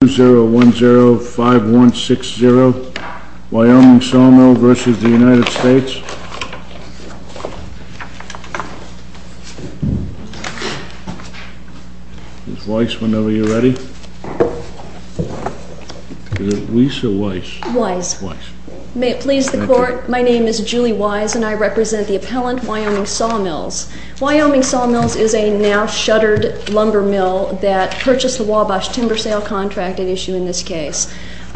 Ms. Weiss, whenever you're ready. Is it Weiss or Weiss? Weiss. May it please the Court, my name is Julie Weiss and I represent the appellant, Wyoming Sawmills. Wyoming Sawmills is a now shuttered lumber mill that purchased the Wabash timber sale contract at issue in this case.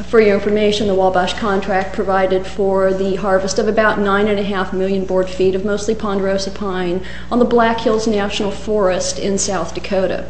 For your information, the Wabash contract provided for the harvest of about nine and a half million board feet of mostly ponderosa pine on the Black Hills National Forest in South Dakota.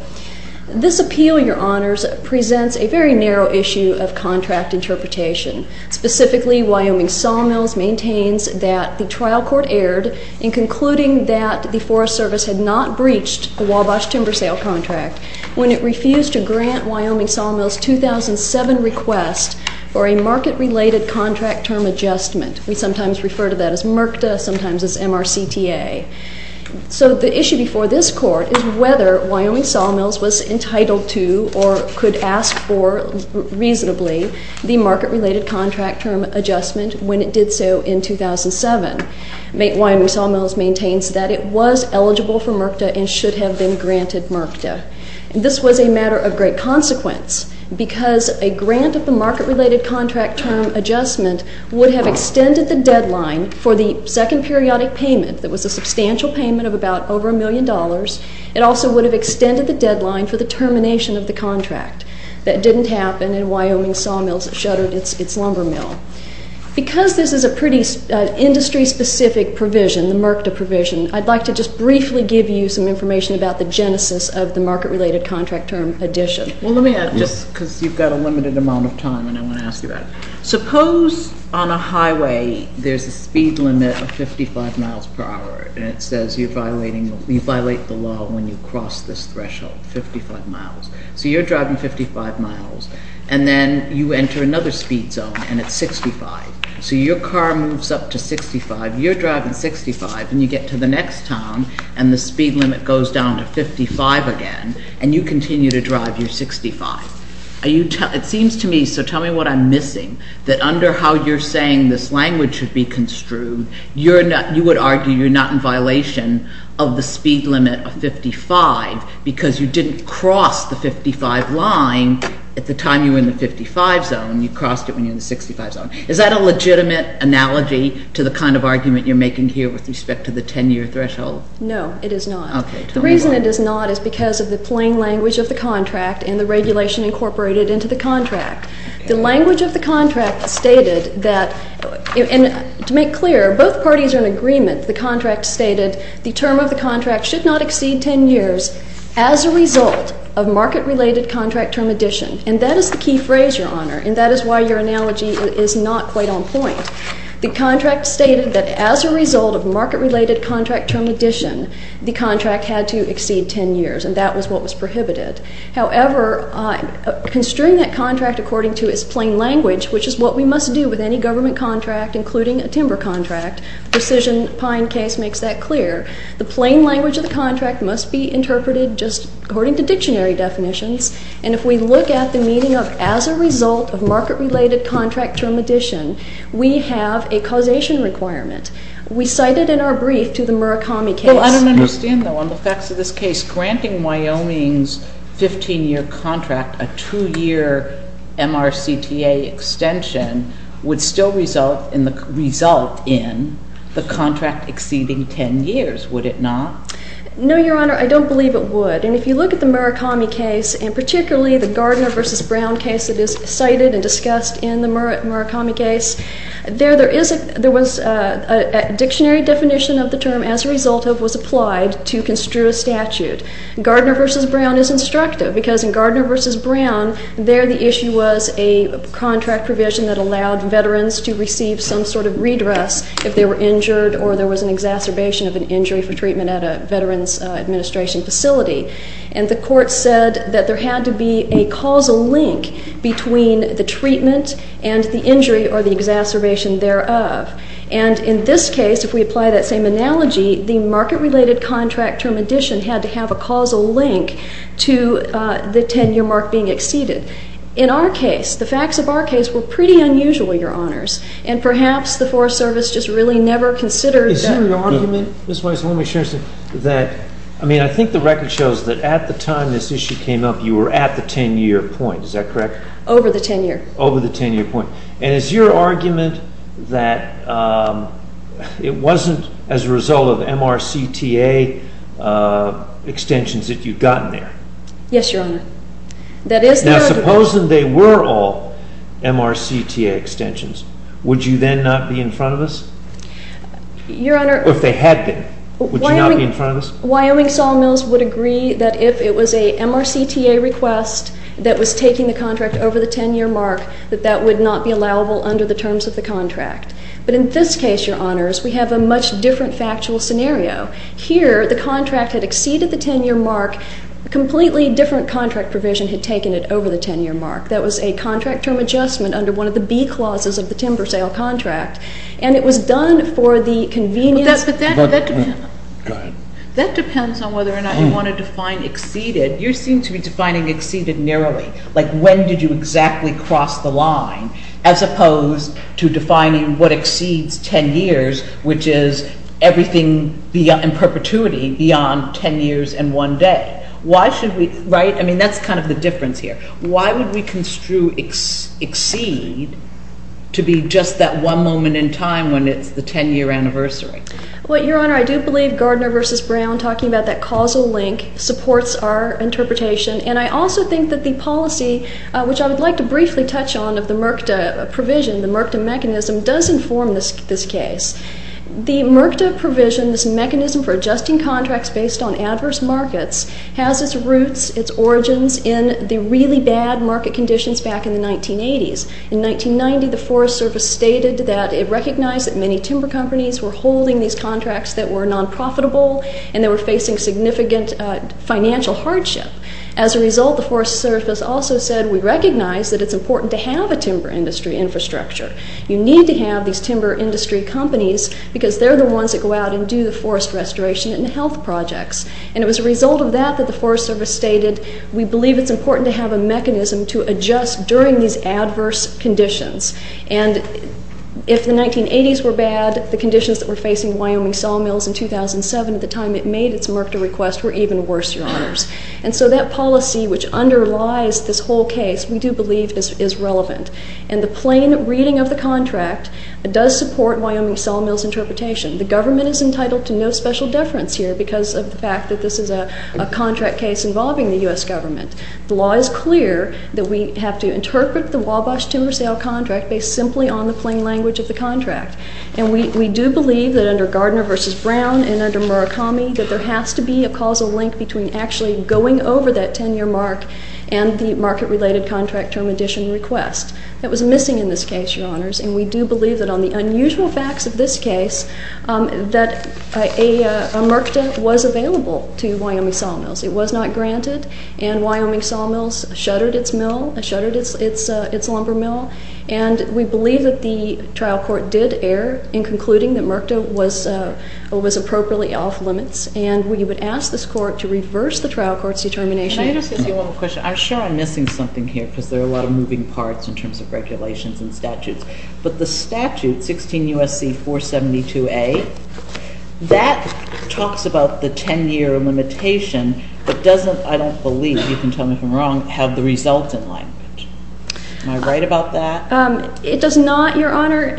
This appeal, your honors, presents a very narrow issue of contract interpretation. Specifically, Wyoming Sawmills maintains that the trial court erred in concluding that the Forest Service had not breached the Wabash timber sale contract when it refused to grant Wyoming Sawmills 2007 request for a market-related contract term adjustment. We sometimes refer to that as MRCTA, sometimes as MRCTA. So the issue before this Court is whether Wyoming Sawmills was entitled to or could ask for reasonably the market-related contract term adjustment when it did so in 2007. Wyoming Sawmills maintains that it was eligible for MRCTA and should have been granted MRCTA. This was a matter of great consequence because a grant of the market-related contract term adjustment would have extended the deadline for the second periodic payment that was a substantial payment of about over a million dollars. It also would have extended the deadline for the termination of the contract. That didn't happen and Wyoming Sawmills shuttered its lumber mill. Because this is a pretty industry-specific provision, the MRCTA provision, I'd like to just briefly give you some information about the genesis of the market-related contract term addition. Well, let me add, just because you've got a limited amount of time and I want to ask you about it. Suppose on a highway there's a speed limit of 55 miles per hour and it says you violate the law when you cross this threshold, 55 miles. So you're driving 55 miles and then you enter another speed zone and it's 65. So your car moves up to 65, you're driving 65 and you get to the next town and the speed limit goes down to 55 again and you continue to drive your 65. It seems to me, so tell me what I'm missing, that under how you're saying this language should be construed, you would argue you're not in violation of the speed limit of 55 because you didn't cross the 55 line at the time you were in the 55 zone. You crossed it when you were in the 65 zone. Is that a legitimate analogy to the kind of argument you're making here with respect to the 10-year threshold? No, it is not. Okay. The reason it is not is because of the plain language of the contract and the regulation incorporated into the contract. The language of the contract stated that, and to make clear, both parties are in agreement. The contract stated the term of the contract should not exceed 10 years as a result of market-related contract term addition. And that is the key phrase, Your Honor, and that is why your analogy is not quite on point. The contract stated that as a result of market-related contract term addition, the contract had to exceed 10 years and that was what was prohibited. However, construing that contract according to its plain language, which is what we must do with any government contract, including a timber contract, Precision Pine case makes that clear. The plain language of the contract must be interpreted just according to dictionary definitions. And if we look at the meaning of as a result of market-related contract term addition, we have a causation requirement. We cite it in our brief to the Murakami case. Well, I don't understand, though, on the facts of this case. Granting Wyoming's 15-year contract a 2-year MRCTA extension would still result in the contract exceeding 10 years, would it not? No, Your Honor, I don't believe it would. And if you look at the Murakami case, and particularly the Gardner v. Brown case that is cited and discussed in the Murakami case, there was a dictionary definition of the term as a result of was applied to construe a statute. Gardner v. Brown is instructive because in Gardner v. Brown, there the issue was a contract provision that allowed veterans to receive some sort of redress if they were injured or there was an exacerbation of an injury for treatment at a Veterans Administration facility. And the court said that there had to be a causal link between the treatment and the injury or the exacerbation thereof. And in this case, if we apply that same analogy, the market-related contract term addition had to have a causal link to the 10-year mark being exceeded. In our case, the facts of our case were pretty unusual, Your Honors. And perhaps the Forest Service just really never considered that. Is your argument, Ms. Weiss, that, I mean, I think the record shows that at the time this issue came up, you were at the 10-year point. Is that correct? Over the 10-year. Over the 10-year point. And is your argument that it wasn't as a result of MRCTA extensions that you'd gotten there? Yes, Your Honor. Now, supposing they were all MRCTA extensions, would you then not be in front of us? Your Honor. Or if they had been, would you not be in front of us? Wyoming Sawmills would agree that if it was a MRCTA request that was taking the contract over the 10-year mark, that that would not be allowable under the terms of the contract. But in this case, Your Honors, we have a much different factual scenario. Here, the contract had exceeded the 10-year mark. A completely different contract provision had taken it over the 10-year mark. That was a contract term adjustment under one of the B clauses of the timber sale contract. And it was done for the convenience. But that depends on whether or not you want to define exceeded. You seem to be defining exceeded narrowly, like when did you exactly cross the line, as opposed to defining what exceeds 10 years, which is everything in perpetuity beyond 10 years and one day. Why should we, right? I mean, that's kind of the difference here. Why would we construe exceed to be just that one moment in time when it's the 10-year anniversary? Well, Your Honor, I do believe Gardner v. Brown talking about that causal link supports our interpretation. And I also think that the policy, which I would like to briefly touch on, of the MRCTA provision, the MRCTA mechanism, does inform this case. The MRCTA provision, this mechanism for adjusting contracts based on adverse markets, has its roots, its origins, in the really bad market conditions back in the 1980s. In 1990, the Forest Service stated that it recognized that many timber companies were holding these contracts that were non-profitable and they were facing significant financial hardship. As a result, the Forest Service also said we recognize that it's important to have a timber industry infrastructure. You need to have these timber industry companies because they're the ones that go out and do the forest restoration and health projects. And it was a result of that that the Forest Service stated we believe it's important to have a mechanism to adjust during these adverse conditions. And if the 1980s were bad, the conditions that were facing Wyoming sawmills in 2007 at the time it made its MRCTA request were even worse, Your Honors. And so that policy, which underlies this whole case, we do believe is relevant. And the plain reading of the contract does support Wyoming sawmills interpretation. The government is entitled to no special deference here because of the fact that this is a contract case involving the U.S. government. The law is clear that we have to interpret the Wabash timber sale contract based simply on the plain language of the contract. And we do believe that under Gardner v. Brown and under Murakami that there has to be a causal link between actually going over that 10-year mark and the market-related contract term addition request that was missing in this case, Your Honors. And we do believe that on the unusual facts of this case that a MRCTA was available to Wyoming sawmills. It was not granted, and Wyoming sawmills shuttered its lumber mill. And we believe that the trial court did err in concluding that MRCTA was appropriately off limits. And we would ask this court to reverse the trial court's determination. Can I just ask you one more question? I'm sure I'm missing something here because there are a lot of moving parts in terms of regulations and statutes. But the statute, 16 U.S.C. 472A, that talks about the 10-year limitation but doesn't, I don't believe, you can tell me if I'm wrong, have the resultant language. Am I right about that? It does not, Your Honor.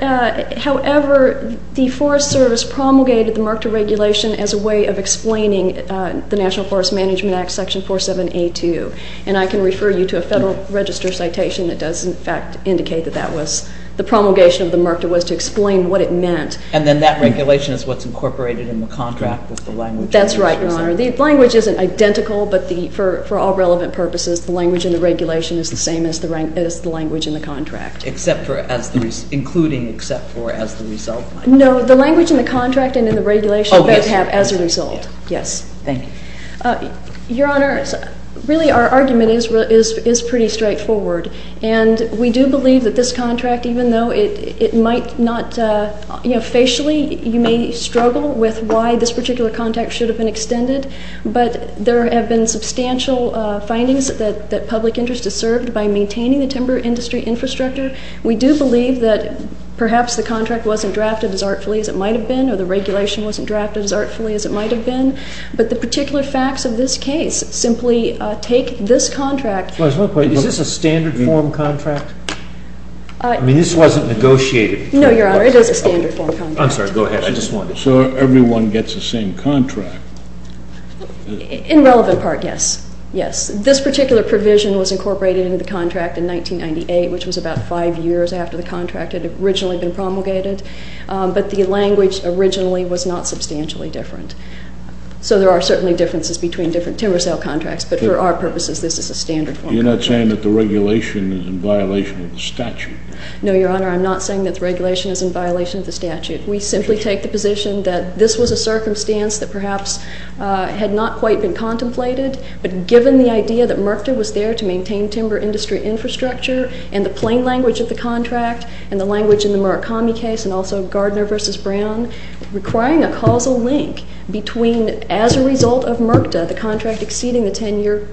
However, the Forest Service promulgated the MRCTA regulation as a way of explaining the National Forest Management Act, section 47A.2. And I can refer you to a Federal Register citation that does, in fact, indicate that that was the promulgation of the MRCTA was to explain what it meant. And then that regulation is what's incorporated in the contract with the language? That's right, Your Honor. The language isn't identical, but for all relevant purposes, the language in the regulation is the same as the language in the contract. Including except for as the result? No, the language in the contract and in the regulation both have as a result. Yes. Thank you. Your Honor, really our argument is pretty straightforward. And we do believe that this contract, even though it might not, you know, facially you may struggle with why this particular contract should have been extended, but there have been substantial findings that public interest is served by maintaining the timber industry infrastructure. We do believe that perhaps the contract wasn't drafted as artfully as it might have been or the regulation wasn't drafted as artfully as it might have been. But the particular facts of this case simply take this contract. Is this a standard form contract? I mean, this wasn't negotiated. No, Your Honor. It is a standard form contract. I'm sorry. Go ahead. I just wanted to. So everyone gets the same contract. In relevant part, yes. Yes. This particular provision was incorporated into the contract in 1998, which was about five years after the contract had originally been promulgated. But the language originally was not substantially different. So there are certainly differences between different timber sale contracts. But for our purposes, this is a standard form contract. You're not saying that the regulation is in violation of the statute? No, Your Honor. I'm not saying that the regulation is in violation of the statute. We simply take the position that this was a circumstance that perhaps had not quite been contemplated. But given the idea that MRCTA was there to maintain timber industry infrastructure and the plain language of the contract and the language in the Murakami case and also Gardner v. Brown requiring a causal link between, as a result of MRCTA, the contract exceeding the 10-year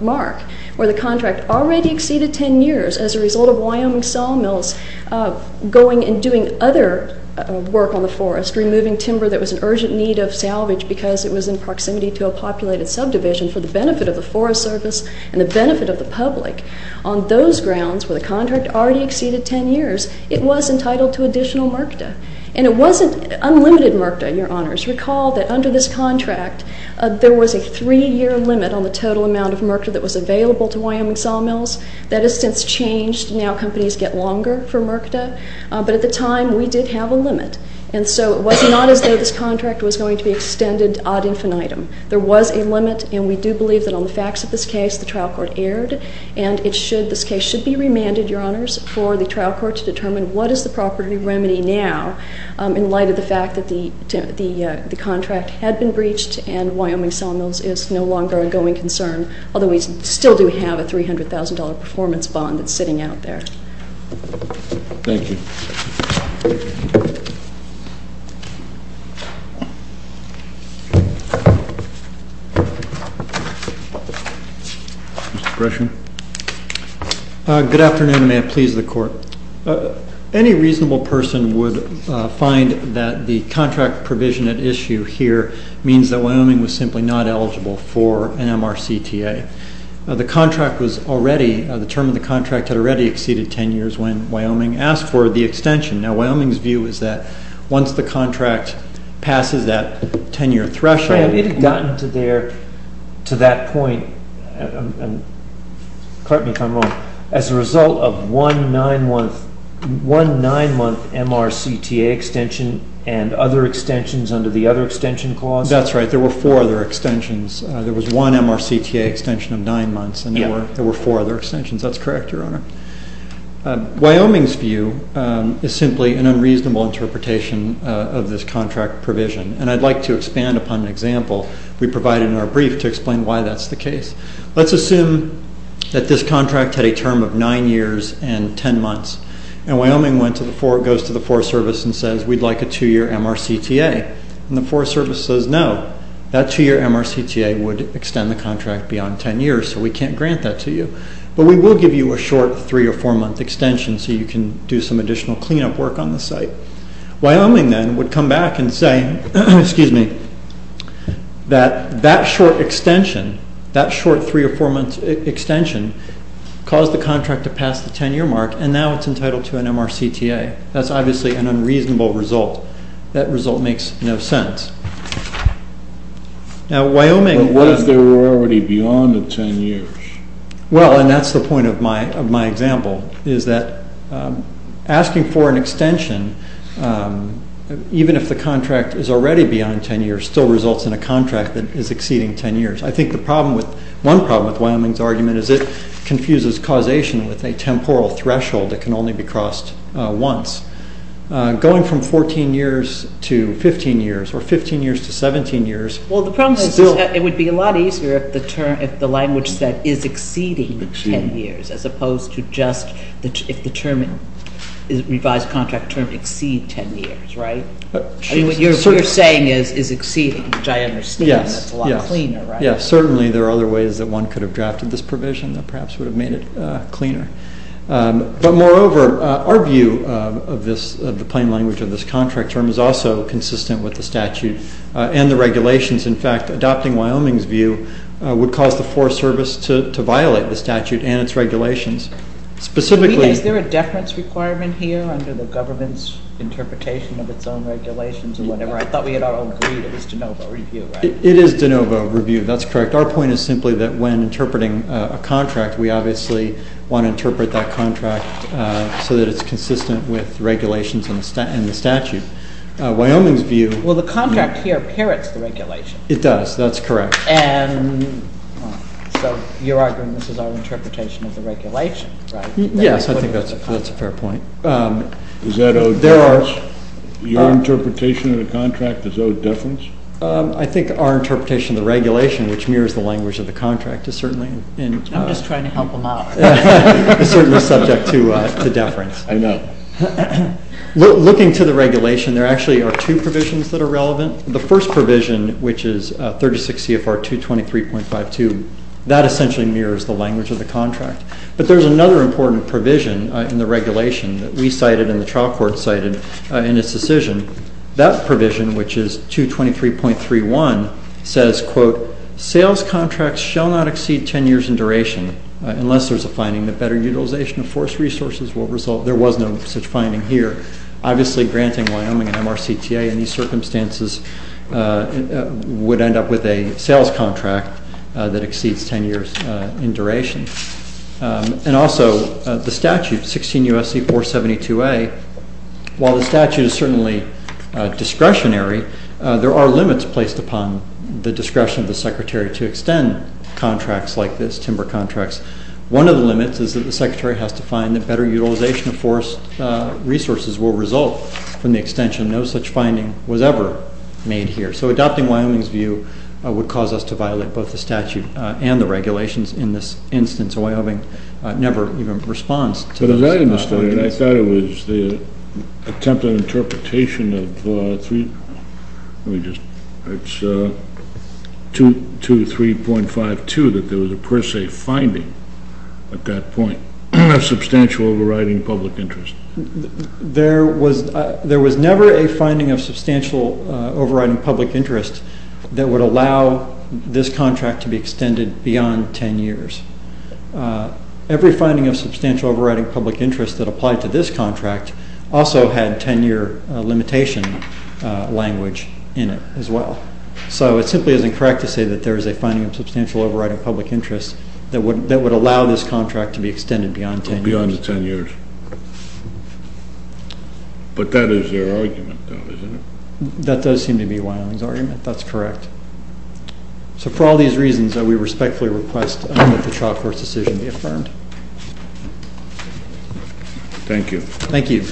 mark where the contract already exceeded 10 years as a result of Wyoming sawmills going and doing other work on the forest, removing timber that was in urgent need of salvage because it was in proximity to a populated subdivision for the benefit of the Forest Service and the benefit of the public, on those grounds where the contract already exceeded 10 years, it was entitled to additional MRCTA. And it wasn't unlimited MRCTA, Your Honors. Recall that under this contract, there was a three-year limit on the total amount of MRCTA that was available to Wyoming sawmills. That has since changed. Now companies get longer for MRCTA. But at the time, we did have a limit. And so it was not as though this contract was going to be extended ad infinitum. There was a limit, and we do believe that on the facts of this case, the trial court erred, and this case should be remanded, Your Honors, for the trial court to determine what is the proper remedy now in light of the fact that the contract had been breached and Wyoming sawmills is no longer an ongoing concern, although we still do have a $300,000 performance bond that's sitting out there. Thank you. Mr. Gresham. Good afternoon. May it please the Court. Any reasonable person would find that the contract provision at issue here means that Wyoming was simply not eligible for an MRCTA. The contract was already, the term of the contract had already exceeded 10 years when Wyoming asked for the extension. Now Wyoming's view is that once the contract passes that 10-year threshold. It had gotten to that point, correct me if I'm wrong, as a result of one nine-month MRCTA extension and other extensions under the other extension clause? That's right. There were four other extensions. There was one MRCTA extension of nine months and there were four other extensions. That's correct, Your Honor. Wyoming's view is simply an unreasonable interpretation of this contract provision, and I'd like to expand upon an example we provided in our brief to explain why that's the case. Let's assume that this contract had a term of nine years and 10 months, and Wyoming goes to the Forest Service and says we'd like a two-year MRCTA, and the Forest Service says no. That two-year MRCTA would extend the contract beyond 10 years, so we can't grant that to you, but we will give you a short three- or four-month extension so you can do some additional cleanup work on the site. Wyoming then would come back and say, excuse me, that that short extension, that short three- or four-month extension caused the contract to pass the 10-year mark, and now it's entitled to an MRCTA. That's obviously an unreasonable result. That result makes no sense. Now, Wyoming— But what if they were already beyond the 10 years? Well, and that's the point of my example, is that asking for an extension, even if the contract is already beyond 10 years, still results in a contract that is exceeding 10 years. I think the problem with—one problem with Wyoming's argument is it confuses causation with a temporal threshold that can only be crossed once. Going from 14 years to 15 years or 15 years to 17 years— Well, the problem is it would be a lot easier if the language said is exceeding 10 years, as opposed to just if the term, the revised contract term, exceeds 10 years, right? I mean, what you're saying is is exceeding, which I understand. Yes, yes. That's a lot cleaner, right? Yes, certainly there are other ways that one could have drafted this provision that perhaps would have made it cleaner. But moreover, our view of the plain language of this contract term is also consistent with the statute and the regulations. In fact, adopting Wyoming's view would cause the Forest Service to violate the statute and its regulations. Specifically— Is there a deference requirement here under the government's interpretation of its own regulations or whatever? I thought we had all agreed it was de novo review, right? It is de novo review. That's correct. Our point is simply that when interpreting a contract, we obviously want to interpret that contract so that it's consistent with regulations and the statute. Wyoming's view— Well, the contract here parrots the regulation. It does. That's correct. And so you're arguing this is our interpretation of the regulation, right? Yes, I think that's a fair point. Is that owed deference? There are— Your interpretation of the contract is owed deference? I think our interpretation of the regulation, which mirrors the language of the contract, is certainly in— I'm just trying to help him out. It's certainly subject to deference. I know. Looking to the regulation, there actually are two provisions that are relevant. The first provision, which is 36 CFR 223.52, that essentially mirrors the language of the contract. But there's another important provision in the regulation that we cited and the trial court cited in its decision. That provision, which is 223.31, says, quote, sales contracts shall not exceed 10 years in duration unless there's a finding that better utilization of forest resources will result— there was no such finding here. Obviously, granting Wyoming an MRCTA in these circumstances would end up with a sales contract that exceeds 10 years in duration. And also, the statute, 16 U.S.C. 472a, while the statute is certainly discretionary, there are limits placed upon the discretion of the secretary to extend contracts like this, timber contracts. One of the limits is that the secretary has to find that better utilization of forest resources will result from the extension. No such finding was ever made here. So adopting Wyoming's view would cause us to violate both the statute and the regulations. In this instance, Wyoming never even responds to— But as I understand it, I thought it was the attempted interpretation of—let me just—it's 223.52 that there was a per se finding at that point of substantial overriding public interest. There was never a finding of substantial overriding public interest that would allow this contract to be extended beyond 10 years. Every finding of substantial overriding public interest that applied to this contract also had 10-year limitation language in it as well. So it simply isn't correct to say that there is a finding of substantial overriding public interest that would allow this contract to be extended beyond 10 years. But that is your argument, though, isn't it? That does seem to be Wyoming's argument. That's correct. So for all these reasons, we respectfully request that the chalkboard decision be affirmed. Thank you. Thank you.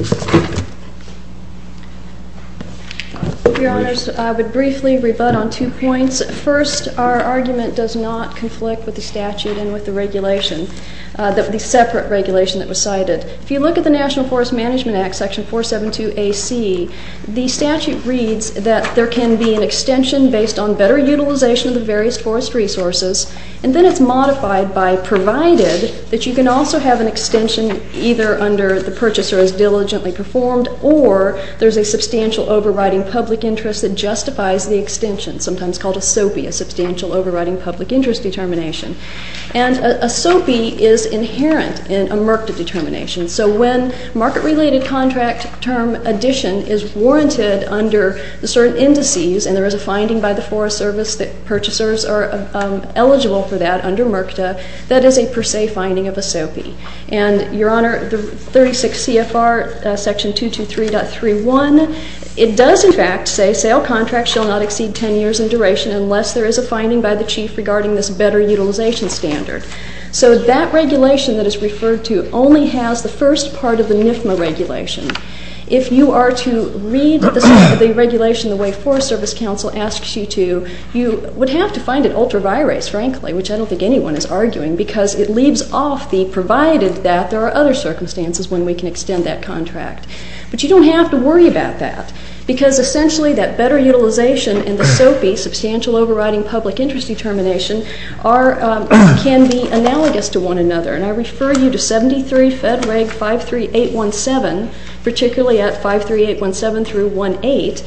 Your Honors, I would briefly rebut on two points. First, our argument does not conflict with the statute and with the regulation, the separate regulation that was cited. If you look at the National Forest Management Act, Section 472AC, the statute reads that there can be an extension based on better utilization of the various forest resources, and then it's modified by provided that you can also have an extension either under the purchaser has diligently performed or there's a substantial overriding public interest that justifies the extension, sometimes called a SOPE, a substantial overriding public interest determination. And a SOPE is inherent in a MRCTA determination. So when market-related contract term addition is warranted under the certain indices, and there is a finding by the Forest Service that purchasers are eligible for that under MRCTA, that is a per se finding of a SOPE. And, Your Honor, the 36 CFR, Section 223.31, it does, in fact, say sale contracts shall not exceed 10 years in duration unless there is a finding by the chief regarding this better utilization standard. So that regulation that is referred to only has the first part of the NFMA regulation. If you are to read the regulation the way Forest Service Council asks you to, you would have to find it ultra-virus, frankly, which I don't think anyone is arguing, because it leaves off the provided that there are other circumstances when we can extend that contract. But you don't have to worry about that, because essentially that better utilization and the SOPE, substantial overriding public interest determination, can be analogous to one another. And I refer you to 73 Fed Reg 53817, particularly at 53817 through 18.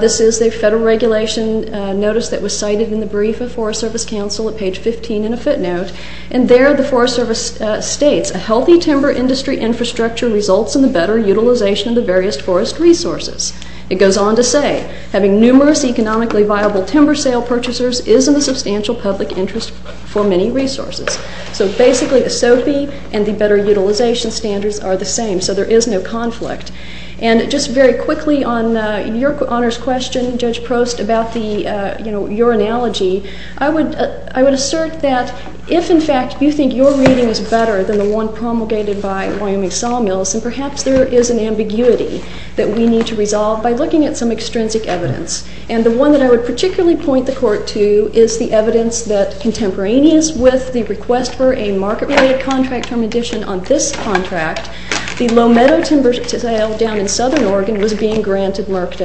This is a federal regulation notice that was cited in the brief of Forest Service Council at page 15 in a footnote. And there the Forest Service states, a healthy timber industry infrastructure results in the better utilization of the various forest resources. It goes on to say, having numerous economically viable timber sale purchasers is in the substantial public interest for many resources. So basically the SOPE and the better utilization standards are the same. So there is no conflict. And just very quickly on your honors question, Judge Prost, about the, you know, your analogy, I would assert that if, in fact, you think your reading is better than the one promulgated by Wyoming Sawmills, then perhaps there is an ambiguity that we need to resolve by looking at some extrinsic evidence. And the one that I would particularly point the court to is the evidence that contemporaneous with the request for a market-related contract term addition on this contract, the low meadow timber sale down in southern Oregon was being granted, marked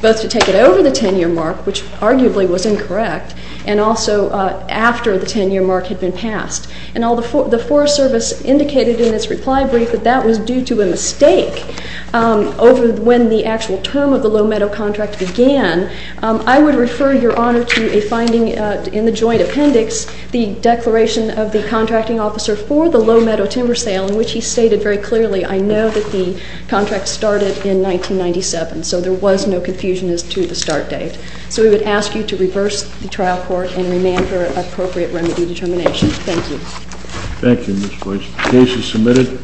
both to take it over the 10-year mark, which arguably was incorrect, and also after the 10-year mark had been passed. And the Forest Service indicated in its reply brief that that was due to a mistake over when the actual term of the low meadow contract began. I would refer your honor to a finding in the joint appendix, the declaration of the contracting officer for the low meadow timber sale, in which he stated very clearly, I know that the contract started in 1997, so there was no confusion as to the start date. So we would ask you to reverse the trial court and remand for appropriate remedy determination. Thank you. Thank you, Ms. Boyce. Case is submitted.